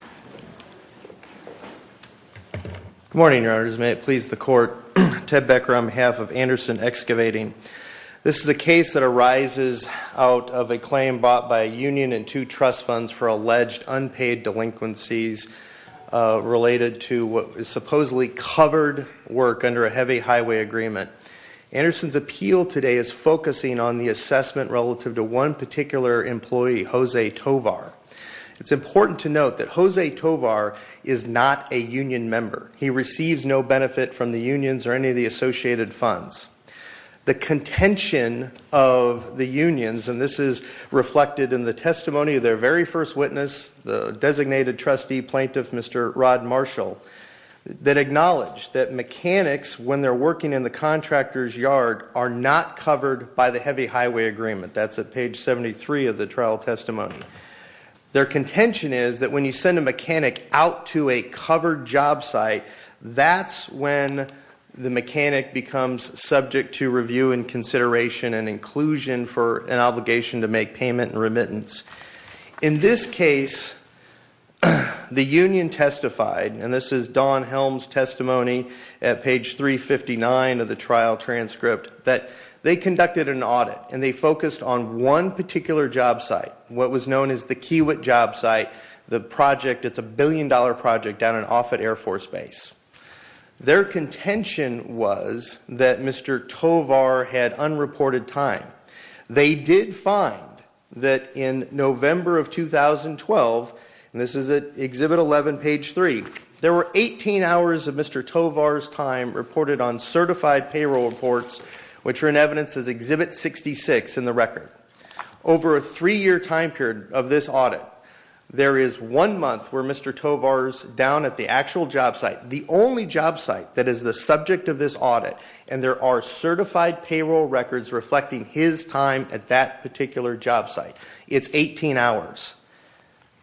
Good morning, your honors. May it please the court, Ted Becker on behalf of Anderson Excavating & Wrecking. This is a case that arises out of a claim brought by a union and two trust funds for alleged unpaid delinquencies related to supposedly covered work under a heavy highway agreement. Anderson's appeal today is focusing on the assessment relative to one particular employee, Jose Tovar. It's important to note that Jose Tovar is not a union member. He receives no benefit from the unions or any of the associated funds. The contention of the unions, and this is reflected in the testimony of their very first witness, the designated trustee plaintiff, Mr. Rod Marshall, that acknowledged that mechanics, when they're working in the contractor's yard, are not covered by the heavy highway agreement. That's at page 73 of the trial testimony. Their contention is that when you send a mechanic out to a covered job site, that's when the mechanic becomes subject to review and consideration and inclusion for an obligation to make payment and remittance. In this case, the union testified, and this is Don Helms' testimony at page 359 of the trial transcript, that they conducted an audit and they focused on one particular job site, what was known as the Kiewit job site, the project that's a billion-dollar project down in Offutt Air Force Base. Their contention was that Mr. Tovar had unreported time. They did find that in November of 2012, and this is at Exhibit 11, page 3, there were 18 hours of Mr. Tovar's time reported on certified payroll reports, which are in evidence as Exhibit 66 in the record. Over a three-year time period of this audit, there is one month where Mr. Tovar's down at the actual job site, the only job site that is the subject of this audit, and there are certified payroll records reflecting his time at that particular job site. It's 18 hours.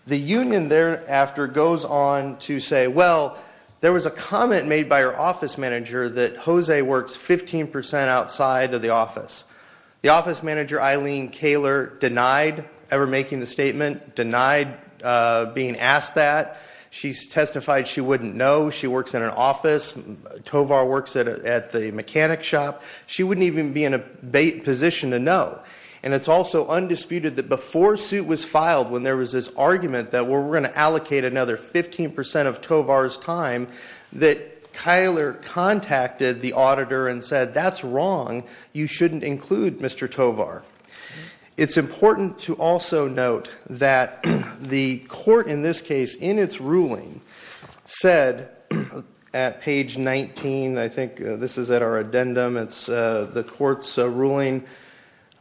The union thereafter goes on to say, well, there was a comment made by her office manager that Jose works 15% outside of the office. The office manager, Eileen Kaler, denied ever making the statement, denied being asked that. She testified she wouldn't know. She works in an office. Tovar works at the mechanic shop. She wouldn't even be in a position to know. And it's also undisputed that before suit was filed, when there was this argument that we're going to allocate another 15% of Tovar's time, that Kaler contacted the auditor and said, that's wrong. You shouldn't include Mr. Tovar. It's important to also note that the court in this case, in its ruling, said at page 19, I think this is at our addendum, it's the court's ruling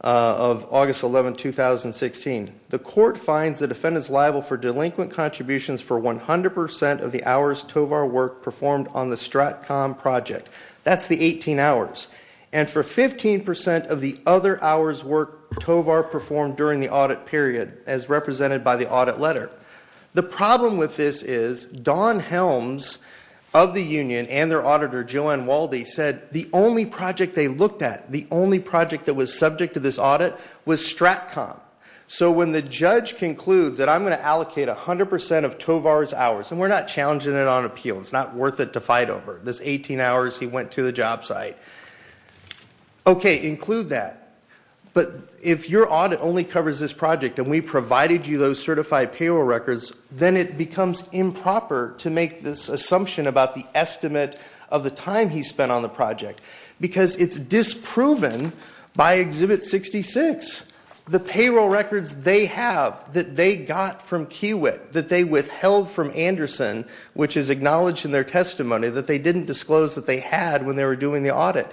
of August 11, 2016. The court finds the defendant's liable for delinquent contributions for 100% of the hours Tovar worked performed on the STRATCOM project. That's the 18 hours. And for 15% of the other hours work Tovar performed during the audit period, as represented by the audit letter. The problem with this is Don Helms of the union and their auditor, Joanne Walde, said the only project they looked at, the only project that was subject to this audit, was STRATCOM. So when the judge concludes that I'm going to allocate 100% of Tovar's hours, and we're not challenging it on appeal. It's not worth it to fight over. This 18 hours he went to the job site. Okay, include that. But if your audit only covers this project, and we provided you those certified payroll records, then it becomes improper to make this assumption about the estimate of the time he spent on the project. Because it's disproven by Exhibit 66. The payroll records they have, that they got from Kiewit, that they withheld from Anderson, which is acknowledged in their testimony, that they didn't disclose that they had when they were doing the audit.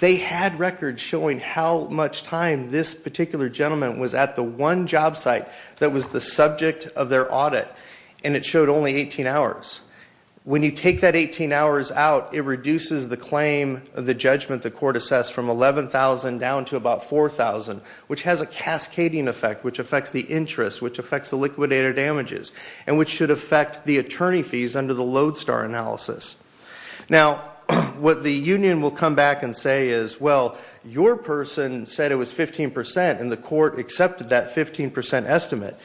They had records showing how much time this particular gentleman was at the one job site that was the subject of their audit, and it showed only 18 hours. When you take that 18 hours out, it reduces the claim, the judgment the court assessed from 11,000 down to about 4,000, which has a cascading effect, which affects the interest, which affects the liquidator damages, and which should affect the attorney fees under the Lodestar analysis. Now, what the union will come back and say is, well, your person said it was 15%, and the court accepted that 15% estimate.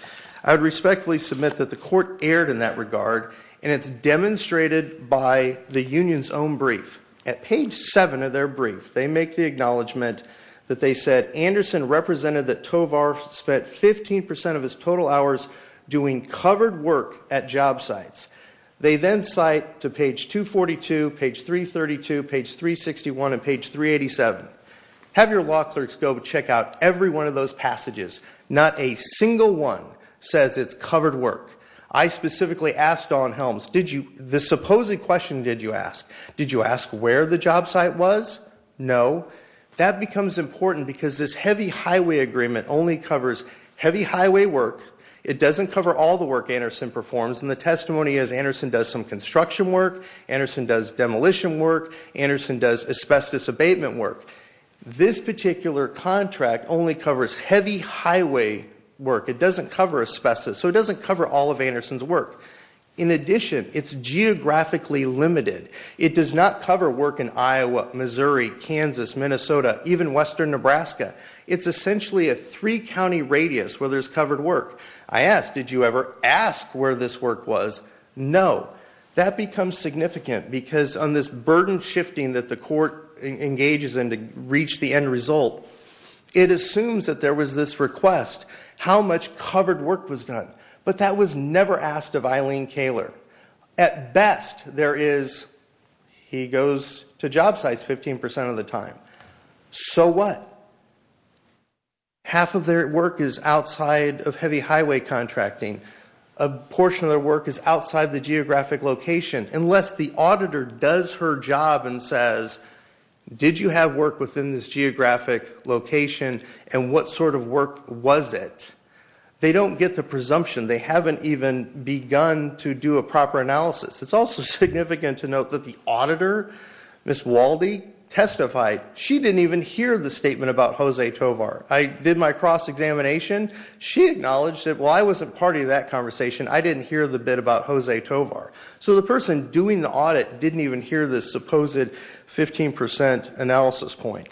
I would respectfully submit that the court erred in that regard, and it's demonstrated by the union's own brief. At page 7 of their brief, they make the acknowledgement that they said, Anderson represented that Tovar spent 15% of his total hours doing covered work at job sites. They then cite to page 242, page 332, page 361, and page 387. Have your law clerks go check out every one of those passages. Not a single one says it's covered work. I specifically asked Don Helms, the supposed question did you ask, did you ask where the job site was? No. That becomes important because this heavy highway agreement only covers heavy highway work. It doesn't cover all the work Anderson performs, and the testimony is Anderson does some construction work, Anderson does demolition work, Anderson does asbestos abatement work. This particular contract only covers heavy highway work. It doesn't cover asbestos, so it doesn't cover all of Anderson's work. In addition, it's geographically limited. It does not cover work in Iowa, Missouri, Kansas, Minnesota, even western Nebraska. It's essentially a three-county radius where there's covered work. I asked, did you ever ask where this work was? No. That becomes significant because on this burden shifting that the court engages in to reach the end result, it assumes that there was this request, how much covered work was done. But that was never asked of Eileen Kaler. At best, there is, he goes to job sites 15% of the time. So what? Half of their work is outside of heavy highway contracting. A portion of their work is outside the geographic location. Unless the auditor does her job and says, did you have work within this geographic location and what sort of work was it? They don't get the presumption. They haven't even begun to do a proper analysis. It's also significant to note that the auditor, Ms. Waldie, testified. She didn't even hear the statement about Jose Tovar. I did my cross-examination. She acknowledged it. Well, I wasn't part of that conversation. I didn't hear the bit about Jose Tovar. So the person doing the audit didn't even hear this supposed 15% analysis point.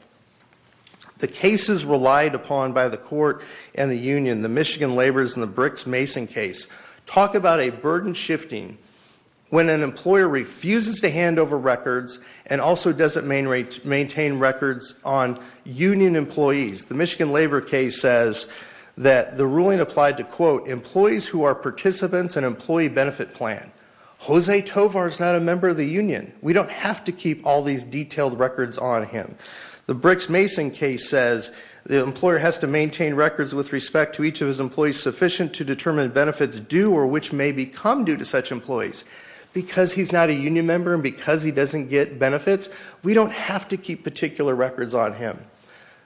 The cases relied upon by the court and the union, the Michigan Labors and the Bricks Mason case, talk about a burden shifting when an employer refuses to hand over records and also doesn't maintain records on union employees. The Michigan Labor case says that the ruling applied to, quote, employees who are participants in employee benefit plan. Jose Tovar is not a member of the union. We don't have to keep all these detailed records on him. The Bricks Mason case says the employer has to maintain records with respect to each of his employees sufficient to determine benefits due or which may become due to such employees. Because he's not a union member and because he doesn't get benefits, we don't have to keep particular records on him.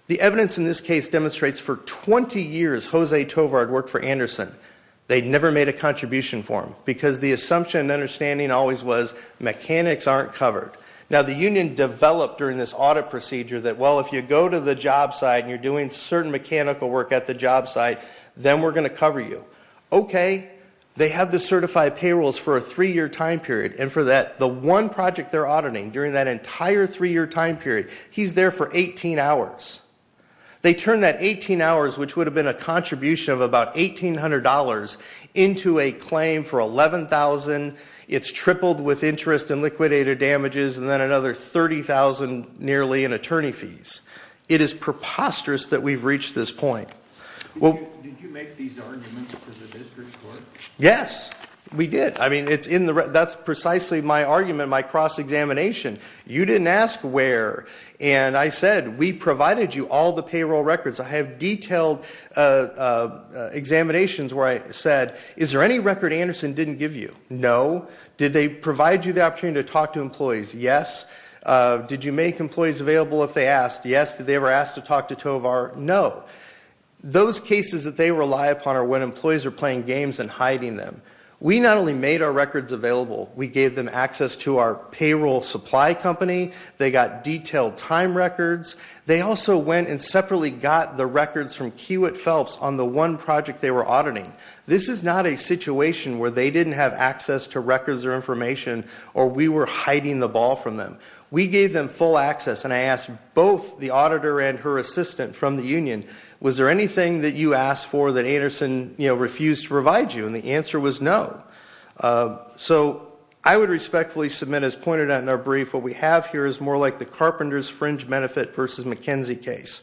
The evidence in this case demonstrates for 20 years Jose Tovar had worked for Anderson. They'd never made a contribution for him because the assumption and understanding always was mechanics aren't covered. Now, the union developed during this audit procedure that, well, if you go to the job site and you're doing certain mechanical work at the job site, then we're going to cover you. Okay. They have the certified payrolls for a three-year time period. And for that, the one project they're auditing during that entire three-year time period, he's there for 18 hours. They turn that 18 hours, which would have been a contribution of about $1,800, into a claim for $11,000. It's tripled with interest and liquidated damages and then another $30,000 nearly in attorney fees. It is preposterous that we've reached this point. Did you make these arguments to the district court? Yes, we did. I mean, that's precisely my argument, my cross-examination. You didn't ask where. And I said, we provided you all the payroll records. I have detailed examinations where I said, is there any record Anderson didn't give you? No. Did they provide you the opportunity to talk to employees? Yes. Did you make employees available if they asked? Yes. Did they ever ask to talk to Tovar? No. Those cases that they rely upon are when employees are playing games and hiding them. We not only made our records available, we gave them access to our payroll supply company. They got detailed time records. They also went and separately got the records from Kiewit Phelps on the one project they were auditing. This is not a situation where they didn't have access to records or information or we were hiding the ball from them. We gave them full access, and I asked both the auditor and her assistant from the union, was there anything that you asked for that Anderson refused to provide you? And the answer was no. So I would respectfully submit, as pointed out in our brief, what we have here is more like the Carpenter's fringe benefit versus McKenzie case,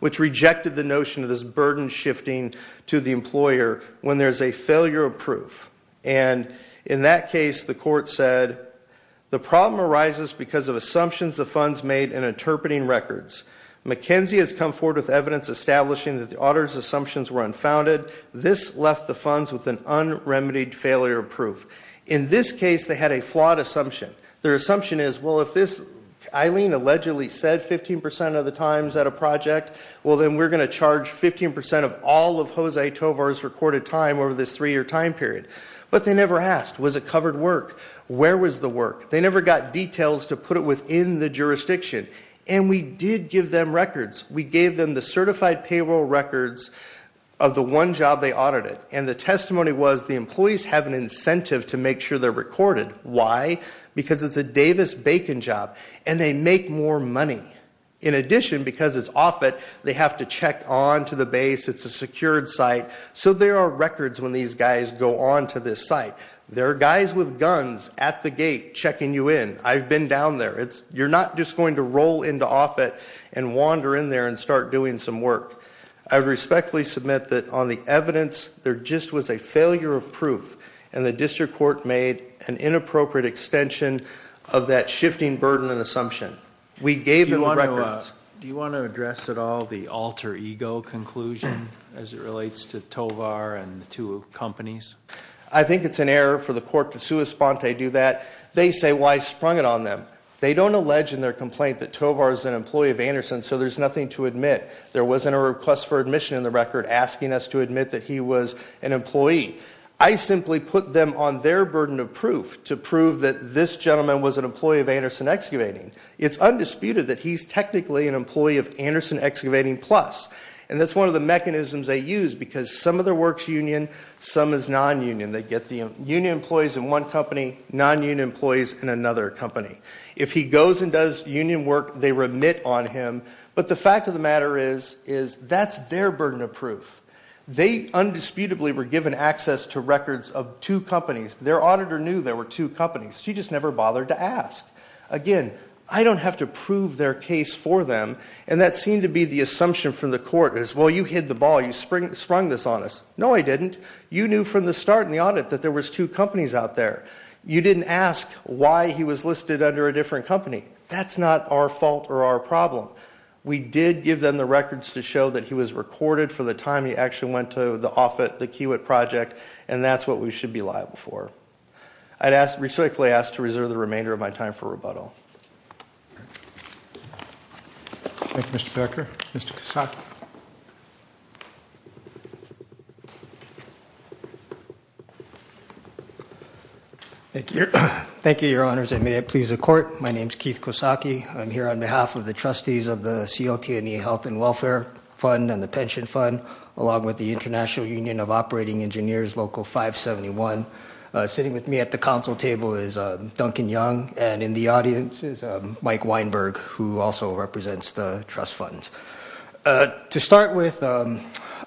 which rejected the notion of this burden shifting to the employer when there's a failure of proof. And in that case, the court said, the problem arises because of assumptions the funds made in interpreting records. McKenzie has come forward with evidence establishing that the auditor's assumptions were unfounded. This left the funds with an unremitied failure of proof. In this case, they had a flawed assumption. Their assumption is, well, if this, Eileen allegedly said 15% of the times at a project, well, then we're going to charge 15% of all of Jose Tovar's recorded time over this three-year time period. But they never asked, was it covered work? Where was the work? They never got details to put it within the jurisdiction. And we did give them records. We gave them the certified payroll records of the one job they audited. And the testimony was, the employees have an incentive to make sure they're recorded. Why? Because it's a Davis-Bacon job. And they make more money. In addition, because it's off it, they have to check on to the base. It's a secured site. So there are records when these guys go on to this site. There are guys with guns at the gate checking you in. I've been down there. You're not just going to roll into off it and wander in there and start doing some work. I respectfully submit that on the evidence, there just was a failure of proof. And the district court made an inappropriate extension of that shifting burden and assumption. We gave them the records. Do you want to address at all the alter ego conclusion as it relates to Tovar and the two companies? I think it's an error for the court to sui sponte do that. They say, why sprung it on them? They don't allege in their complaint that Tovar is an employee of Anderson, so there's nothing to admit. There wasn't a request for admission in the record asking us to admit that he was an employee. I simply put them on their burden of proof to prove that this gentleman was an employee of Anderson Excavating. It's undisputed that he's technically an employee of Anderson Excavating Plus. And that's one of the mechanisms they use because some of their work's union, some is non-union. They get the union employees in one company, non-union employees in another company. If he goes and does union work, they remit on him. But the fact of the matter is that's their burden of proof. They undisputedly were given access to records of two companies. Their auditor knew there were two companies. She just never bothered to ask. Again, I don't have to prove their case for them. And that seemed to be the assumption from the court is, well, you hit the ball. You sprung this on us. No, I didn't. You knew from the start in the audit that there was two companies out there. You didn't ask why he was listed under a different company. That's not our fault or our problem. We did give them the records to show that he was recorded for the time he actually went to the offit, the Kiewit project, and that's what we should be liable for. I'd respectfully ask to reserve the remainder of my time for rebuttal. Thank you, Mr. Becker. Mr. Kosaki. Thank you, Your Honors, and may it please the court. My name's Keith Kosaki. I'm here on behalf of the trustees of the CLT&E Health and Welfare Fund and the Pension Fund, along with the International Union of Operating Engineers, Local 571. Sitting with me at the council table is Duncan Young, and in the audience is Mike Weinberg, who also represents the trust funds. To start with, I'd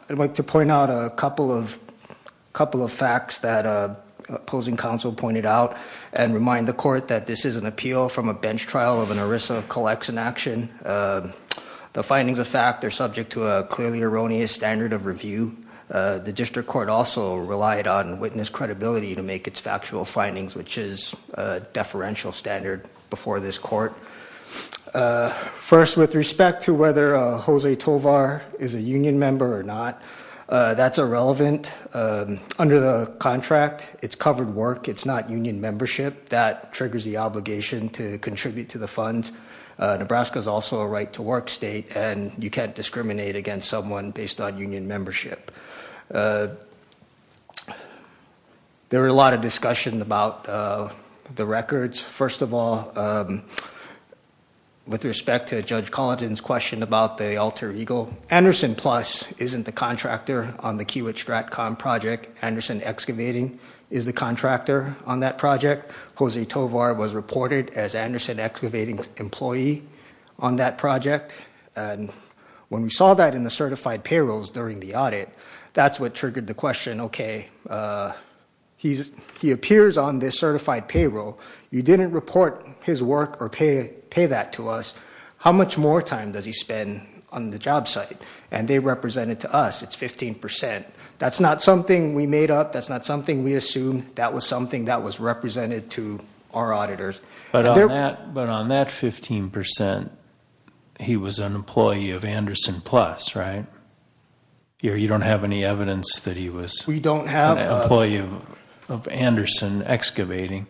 like to point out a couple of facts that opposing counsel pointed out and remind the court that this is an appeal from a bench trial of an ERISA collection action. The findings of fact are subject to a clearly erroneous standard of review. The district court also relied on witness credibility to make its factual findings, which is a deferential standard before this court. First, with respect to whether Jose Tovar is a union member or not, that's irrelevant. Under the contract, it's covered work. It's not union membership. That triggers the obligation to contribute to the funds. Nebraska's also a right-to-work state, and you can't discriminate against someone based on union membership. There were a lot of discussion about the records. First of all, with respect to Judge Collin's question about the alter ego, Anderson Plus isn't the contractor on the Kiewit-Stratcom project. Anderson Excavating is the contractor on that project. Jose Tovar was reported as Anderson Excavating's employee on that project. When we saw that in the certified payrolls during the audit, that's what triggered the question, okay, he appears on this certified payroll. You didn't report his work or pay that to us. How much more time does he spend on the job site? And they represented to us, it's 15%. That's not something we made up. That's not something we assumed. That was something that was represented to our auditors. But on that 15%, he was an employee of Anderson Plus, right? You don't have any evidence that he was an employee of Anderson Excavating.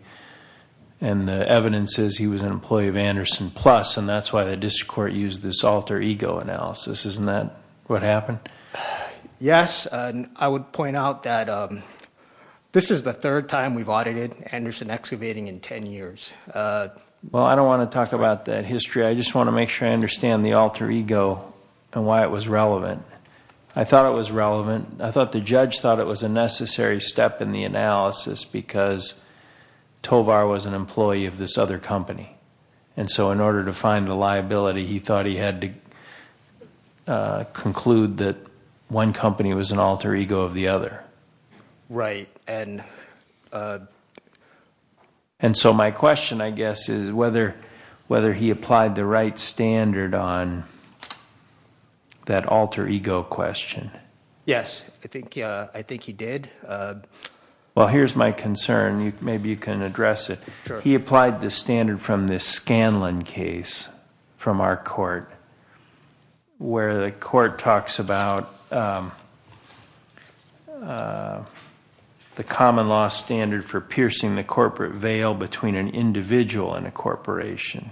And the evidence is he was an employee of Anderson Plus, and that's why the district court used this alter ego analysis. Isn't that what happened? Yes. I would point out that this is the third time we've audited Anderson Excavating in 10 years. Well, I don't want to talk about that history. I just want to make sure I understand the alter ego and why it was relevant. I thought it was relevant. I thought the judge thought it was a necessary step in the analysis because Tovar was an employee of this other company. And so in order to find the liability, he thought he had to conclude that one company was an alter ego of the other. Right. And so my question, I guess, is whether he applied the right standard on that alter ego question. Yes. I think he did. Well, here's my concern. Maybe you can address it. He applied the standard from this Scanlon case from our court where the court talks about the common law standard for piercing the corporate veil between an individual and a corporation.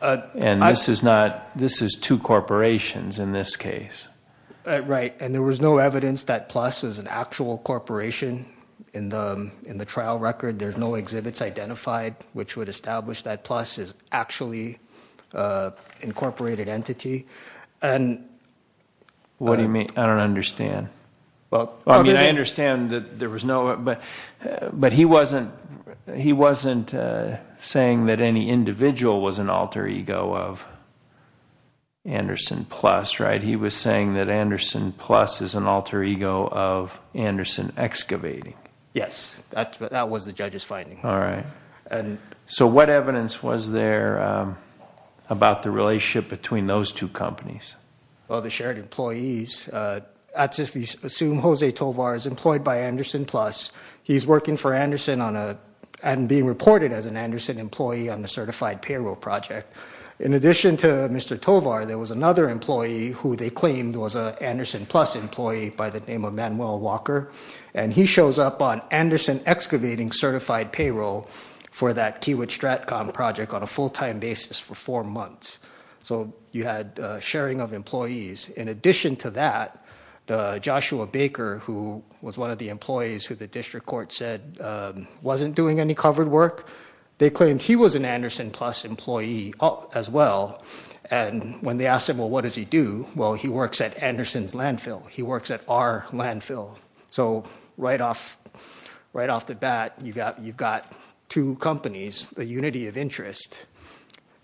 And this is two corporations in this case. Right. And there was no evidence that PLUS is an actual corporation. In the trial record, there's no exhibits identified which would establish that PLUS is actually an incorporated entity. What do you mean? I don't understand. I mean, I understand that there was no. But he wasn't saying that any individual was an alter ego of Anderson PLUS, right? He was saying that Anderson PLUS is an alter ego of Anderson Excavating. Yes. That was the judge's finding. All right. So what evidence was there about the relationship between those two companies? Well, the shared employees. Assume Jose Tovar is employed by Anderson PLUS. He's working for Anderson and being reported as an Anderson employee on the certified payroll project. In addition to Mr. Tovar, there was another employee who they claimed was an Anderson PLUS employee by the name of Manuel Walker, and he shows up on Anderson Excavating certified payroll for that Kiewit-Stratcom project on a full-time basis for four months. So you had sharing of employees. In addition to that, Joshua Baker, who was one of the employees who the district court said wasn't doing any covered work, they claimed he was an Anderson PLUS employee as well, and when they asked him, well, what does he do? Well, he works at Anderson's landfill. He works at our landfill. So right off the bat, you've got two companies, a unity of interest.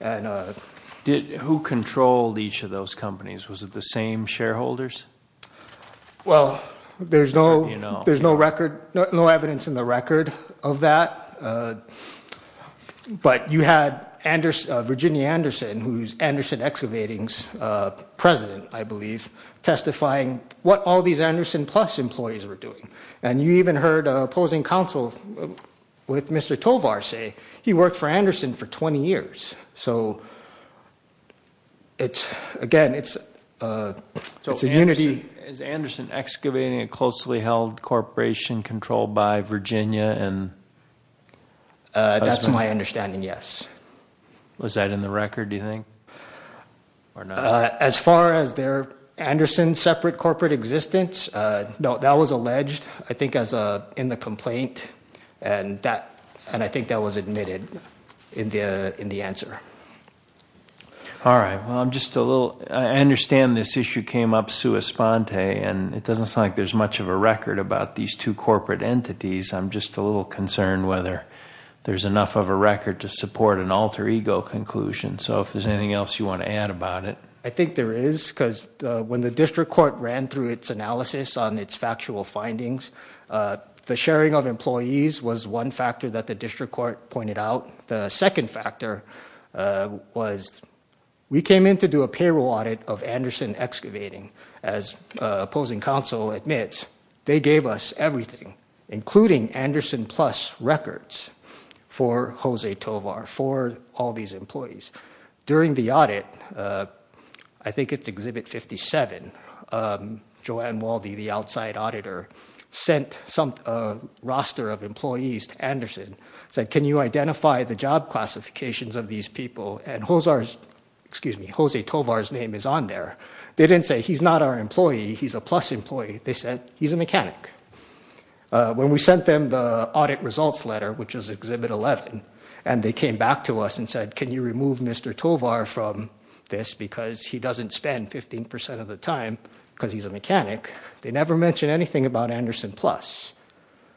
Who controlled each of those companies? Was it the same shareholders? Well, there's no record, no evidence in the record of that. But you had Virginia Anderson, who's Anderson Excavating's president, I believe, testifying what all these Anderson PLUS employees were doing, and you even heard opposing counsel with Mr. Tovar say he worked for Anderson for 20 years. So, again, it's a unity. Is Anderson Excavating a closely held corporation controlled by Virginia? That's my understanding, yes. Was that in the record, do you think? As far as their Anderson separate corporate existence, no. That was alleged, I think, in the complaint, and I think that was admitted in the answer. All right. Well, I'm just a little – I understand this issue came up sui sponte, and it doesn't sound like there's much of a record about these two corporate entities. I'm just a little concerned whether there's enough of a record to support an alter ego conclusion. So if there's anything else you want to add about it. I think there is because when the district court ran through its analysis on its factual findings, the sharing of employees was one factor that the district court pointed out. The second factor was we came in to do a payroll audit of Anderson Excavating as opposing counsel admits. They gave us everything, including Anderson Plus records for Jose Tovar, for all these employees. During the audit, I think it's Exhibit 57, Joanne Waldy, the outside auditor, sent a roster of employees to Anderson, said, can you identify the job classifications of these people? And Jose Tovar's name is on there. They didn't say, he's not our employee, he's a Plus employee. They said, he's a mechanic. When we sent them the audit results letter, which is Exhibit 11, and they came back to us and said, can you remove Mr. Tovar from this because he doesn't spend 15% of the time because he's a mechanic, they never mentioned anything about Anderson Plus.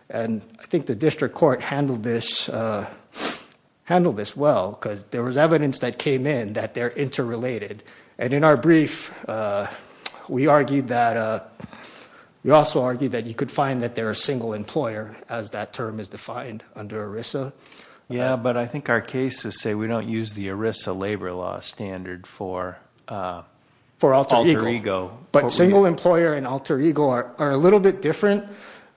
And I think the district court handled this well because there was evidence that came in that they're interrelated. And in our brief, we argued that, we also argued that you could find that they're a single employer as that term is defined under ERISA. Yeah, but I think our cases say we don't use the ERISA labor law standard for alter ego. But single employer and alter ego are a little bit different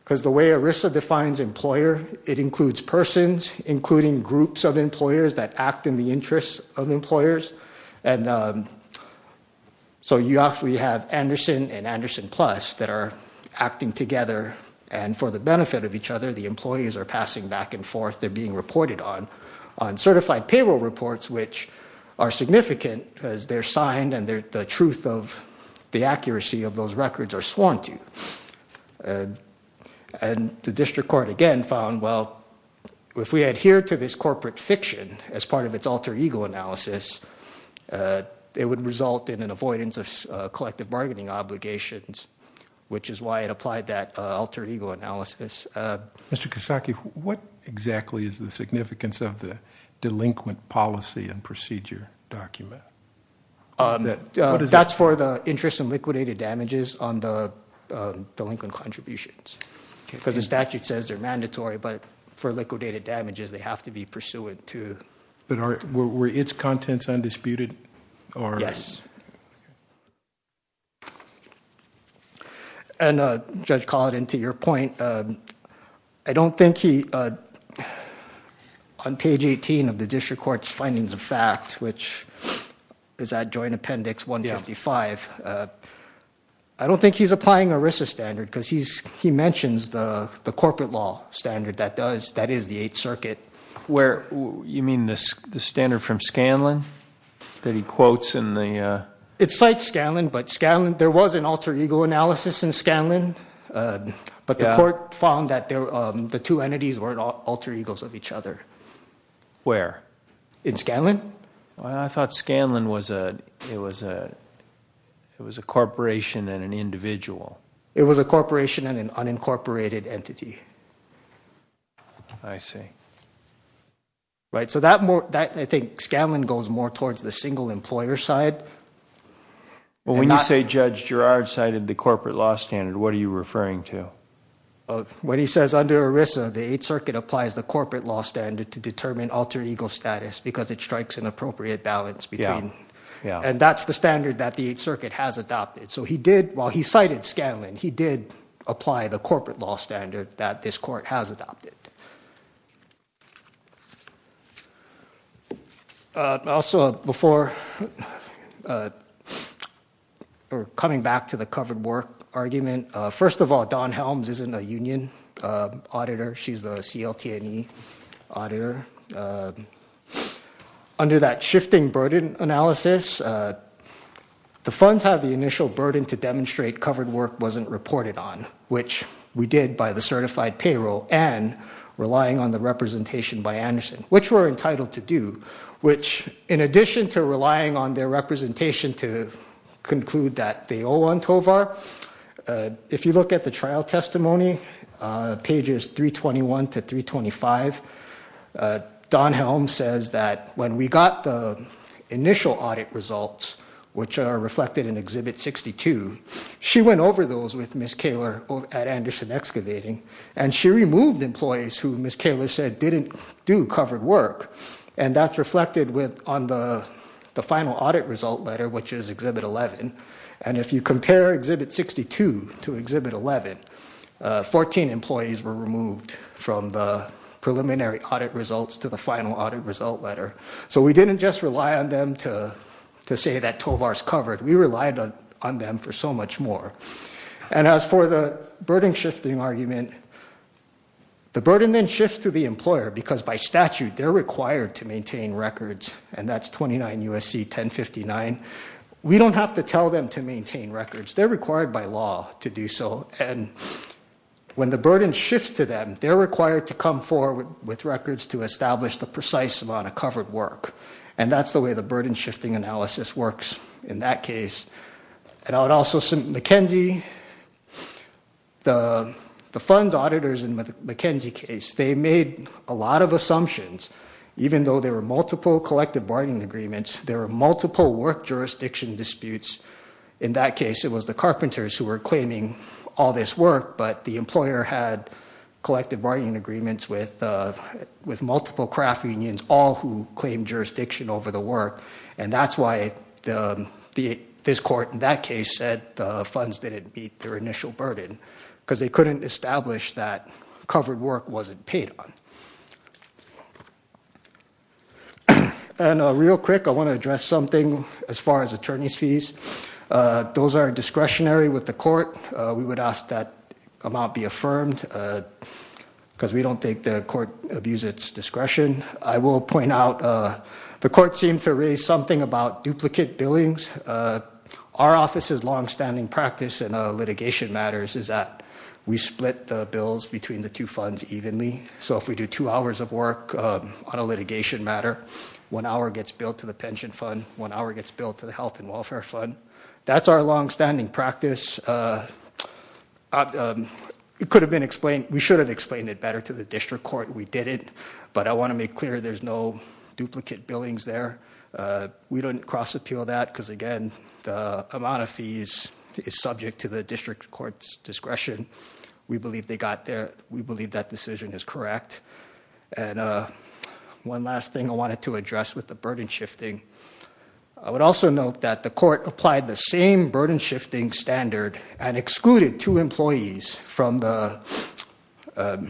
because the way ERISA defines employer, it includes persons, including groups of employers that act in the interest of employers. And so you actually have Anderson and Anderson Plus that are acting together. And for the benefit of each other, the employees are passing back and forth, they're being reported on, on certified payroll reports, which are significant because they're signed and the truth of the accuracy of those records are sworn to. And the district court again found, well, if we adhere to this corporate fiction as part of its alter ego analysis, it would result in an avoidance of collective bargaining obligations, which is why it applied that alter ego analysis. Mr. Kasaki, what exactly is the significance of the delinquent policy and procedure document? That's for the interest in liquidated damages on the delinquent contributions because the statute says they're mandatory, but for liquidated damages, they have to be pursuant to. But were its contents undisputed? Yes. And Judge Collin, to your point, I don't think he, on page 18 of the district court's findings of fact, which is at joint appendix 155, I don't think he's applying ERISA standard because he mentions the corporate law standard that does, which is the Eighth Circuit. You mean the standard from Scanlon that he quotes in the... It cites Scanlon, but there was an alter ego analysis in Scanlon, but the court found that the two entities were alter egos of each other. Where? In Scanlon. I thought Scanlon was a corporation and an individual. It was a corporation and an unincorporated entity. I see. Right, so I think Scanlon goes more towards the single employer side. Well, when you say Judge Girard cited the corporate law standard, what are you referring to? When he says under ERISA, the Eighth Circuit applies the corporate law standard to determine alter ego status because it strikes an appropriate balance between... Yeah, yeah. And that's the standard that the Eighth Circuit has adopted. So he did, while he cited Scanlon, he did apply the corporate law standard that this court has adopted. Also, before... Coming back to the covered work argument, first of all, Dawn Helms isn't a union auditor. She's the CLT&E auditor. Under that shifting burden analysis, the funds have the initial burden to demonstrate covered work wasn't reported on, which we did by the certified payroll and relying on the representation by Anderson, which we're entitled to do, which, in addition to relying on their representation to conclude that they owe on Tovar, if you look at the trial testimony, pages 321 to 325, Dawn Helms says that when we got the initial audit results, which are reflected in Exhibit 62, she went over those with Ms. Kaler at Anderson Excavating, and she removed employees who Ms. Kaler said didn't do covered work, and that's reflected on the final audit result letter, which is Exhibit 11. And if you compare Exhibit 62 to Exhibit 11, 14 employees were removed from the preliminary audit results to the final audit result letter. So we didn't just rely on them to say that Tovar's covered. We relied on them for so much more. And as for the burden-shifting argument, the burden then shifts to the employer because by statute they're required to maintain records, and that's 29 U.S.C. 1059. We don't have to tell them to maintain records. They're required by law to do so, and when the burden shifts to them, they're required to come forward with records to establish the precise amount of covered work, and that's the way the burden-shifting analysis works in that case. And I would also say McKenzie, the funds auditors in the McKenzie case, they made a lot of assumptions. Even though there were multiple collective bargaining agreements, there were multiple work jurisdiction disputes in that case. It was the carpenters who were claiming all this work, but the employer had collective bargaining agreements with multiple craft unions, all who claimed jurisdiction over the work, and that's why this court in that case said the funds didn't meet their initial burden because they couldn't establish that covered work wasn't paid on. And real quick, I want to address something as far as attorneys' fees. Those are discretionary with the court. We would ask that amount be affirmed because we don't think the court abused its discretion. I will point out the court seemed to raise something about duplicate billings. Our office's longstanding practice in litigation matters is that we split the bills between the two funds evenly. So if we do two hours of work on a litigation matter, one hour gets billed to the pension fund, one hour gets billed to the health and welfare fund. That's our longstanding practice. It could have been explained. We should have explained it better to the district court. We didn't, but I want to make clear there's no duplicate billings there. We don't cross-appeal that because, again, the amount of fees is subject to the district court's discretion. We believe they got there. We believe that decision is correct. And one last thing I wanted to address with the burden shifting. I would also note that the court applied the same burden shifting standard and excluded two employees that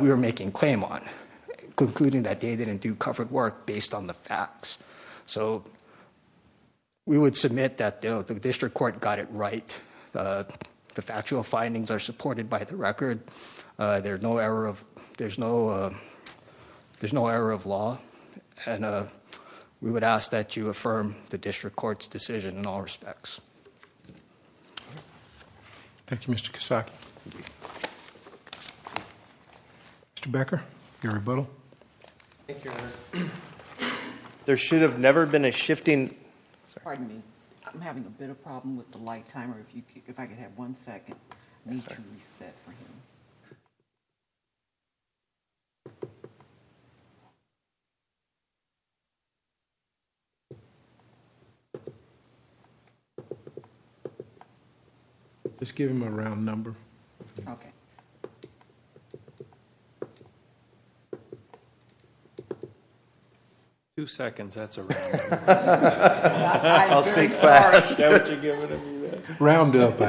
we were making claim on, concluding that they didn't do covered work based on the facts. So we would submit that the district court got it right. The factual findings are supported by the record. There's no error of law. And we would ask that you affirm the district court's decision in all respects. Thank you, Mr. Kasach. Mr. Becker, your rebuttal. Thank you, Your Honor. There should have never been a shifting. Pardon me. I'm having a bit of problem with the light timer. If I could have one second. Reset for him. Just give him a round number. Okay. Two seconds. That's a round number. I'll speak fast. Roundup.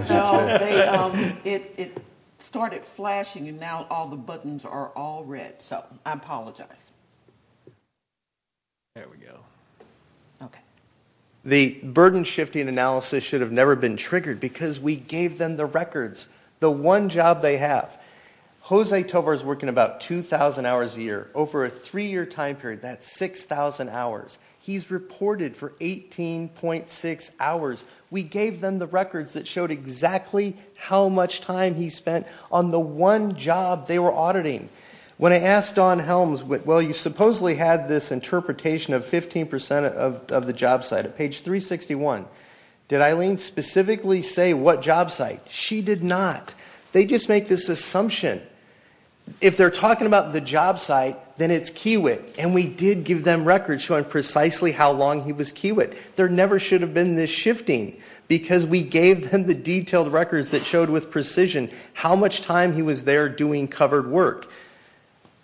It started flashing and now all the buttons are all red. So I apologize. There we go. Okay. The burden shifting analysis should have never been triggered because we gave them the records. The one job they have. Jose Tovar is working about 2000 hours a year over a three year time period. That's 6000 hours. He's reported for 18.6 hours. We gave them the records that showed exactly how much time he spent on the one job they were auditing. When I asked Dawn Helms, well, you supposedly had this interpretation of 15% of the job site at page 361. Did Eileen specifically say what job site? She did not. They just make this assumption. If they're talking about the job site, then it's Kiewit. And we did give them records showing precisely how long he was Kiewit. There never should have been this shifting because we gave them the detailed records that showed with precision how much time he was there doing covered work.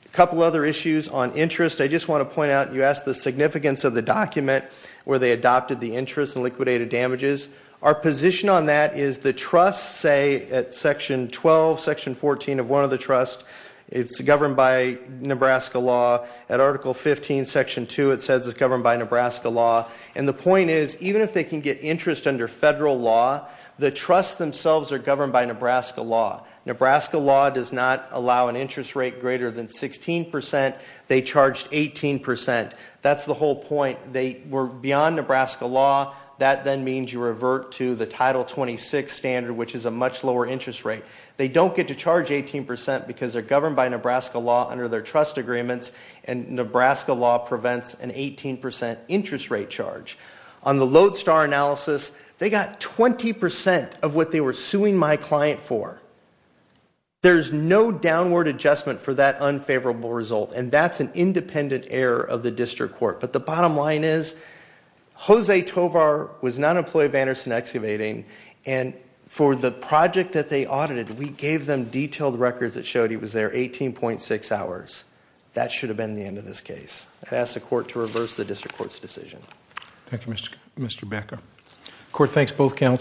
A couple other issues on interest. I just want to point out you asked the significance of the document where they adopted the interest and liquidated damages. Our position on that is the trusts say at section 12, section 14 of one of the trusts, it's governed by Nebraska law. At article 15, section 2, it says it's governed by Nebraska law. And the point is even if they can get interest under federal law, the trusts themselves are governed by Nebraska law. Nebraska law does not allow an interest rate greater than 16%. They charged 18%. That's the whole point. They were beyond Nebraska law. That then means you revert to the title 26 standard, which is a much lower interest rate. They don't get to charge 18% because they're governed by Nebraska law under their trust agreements. And Nebraska law prevents an 18% interest rate charge. On the Lodestar analysis, they got 20% of what they were suing my client for. There's no downward adjustment for that unfavorable result. And that's an independent error of the district court. But the bottom line is Jose Tovar was not an employee of Anderson Excavating. And for the project that they audited, we gave them detailed records that showed he was there 18.6 hours. That should have been the end of this case. I'd ask the court to reverse the district court's decision. Thank you, Mr. Becker. Court thanks both counsel.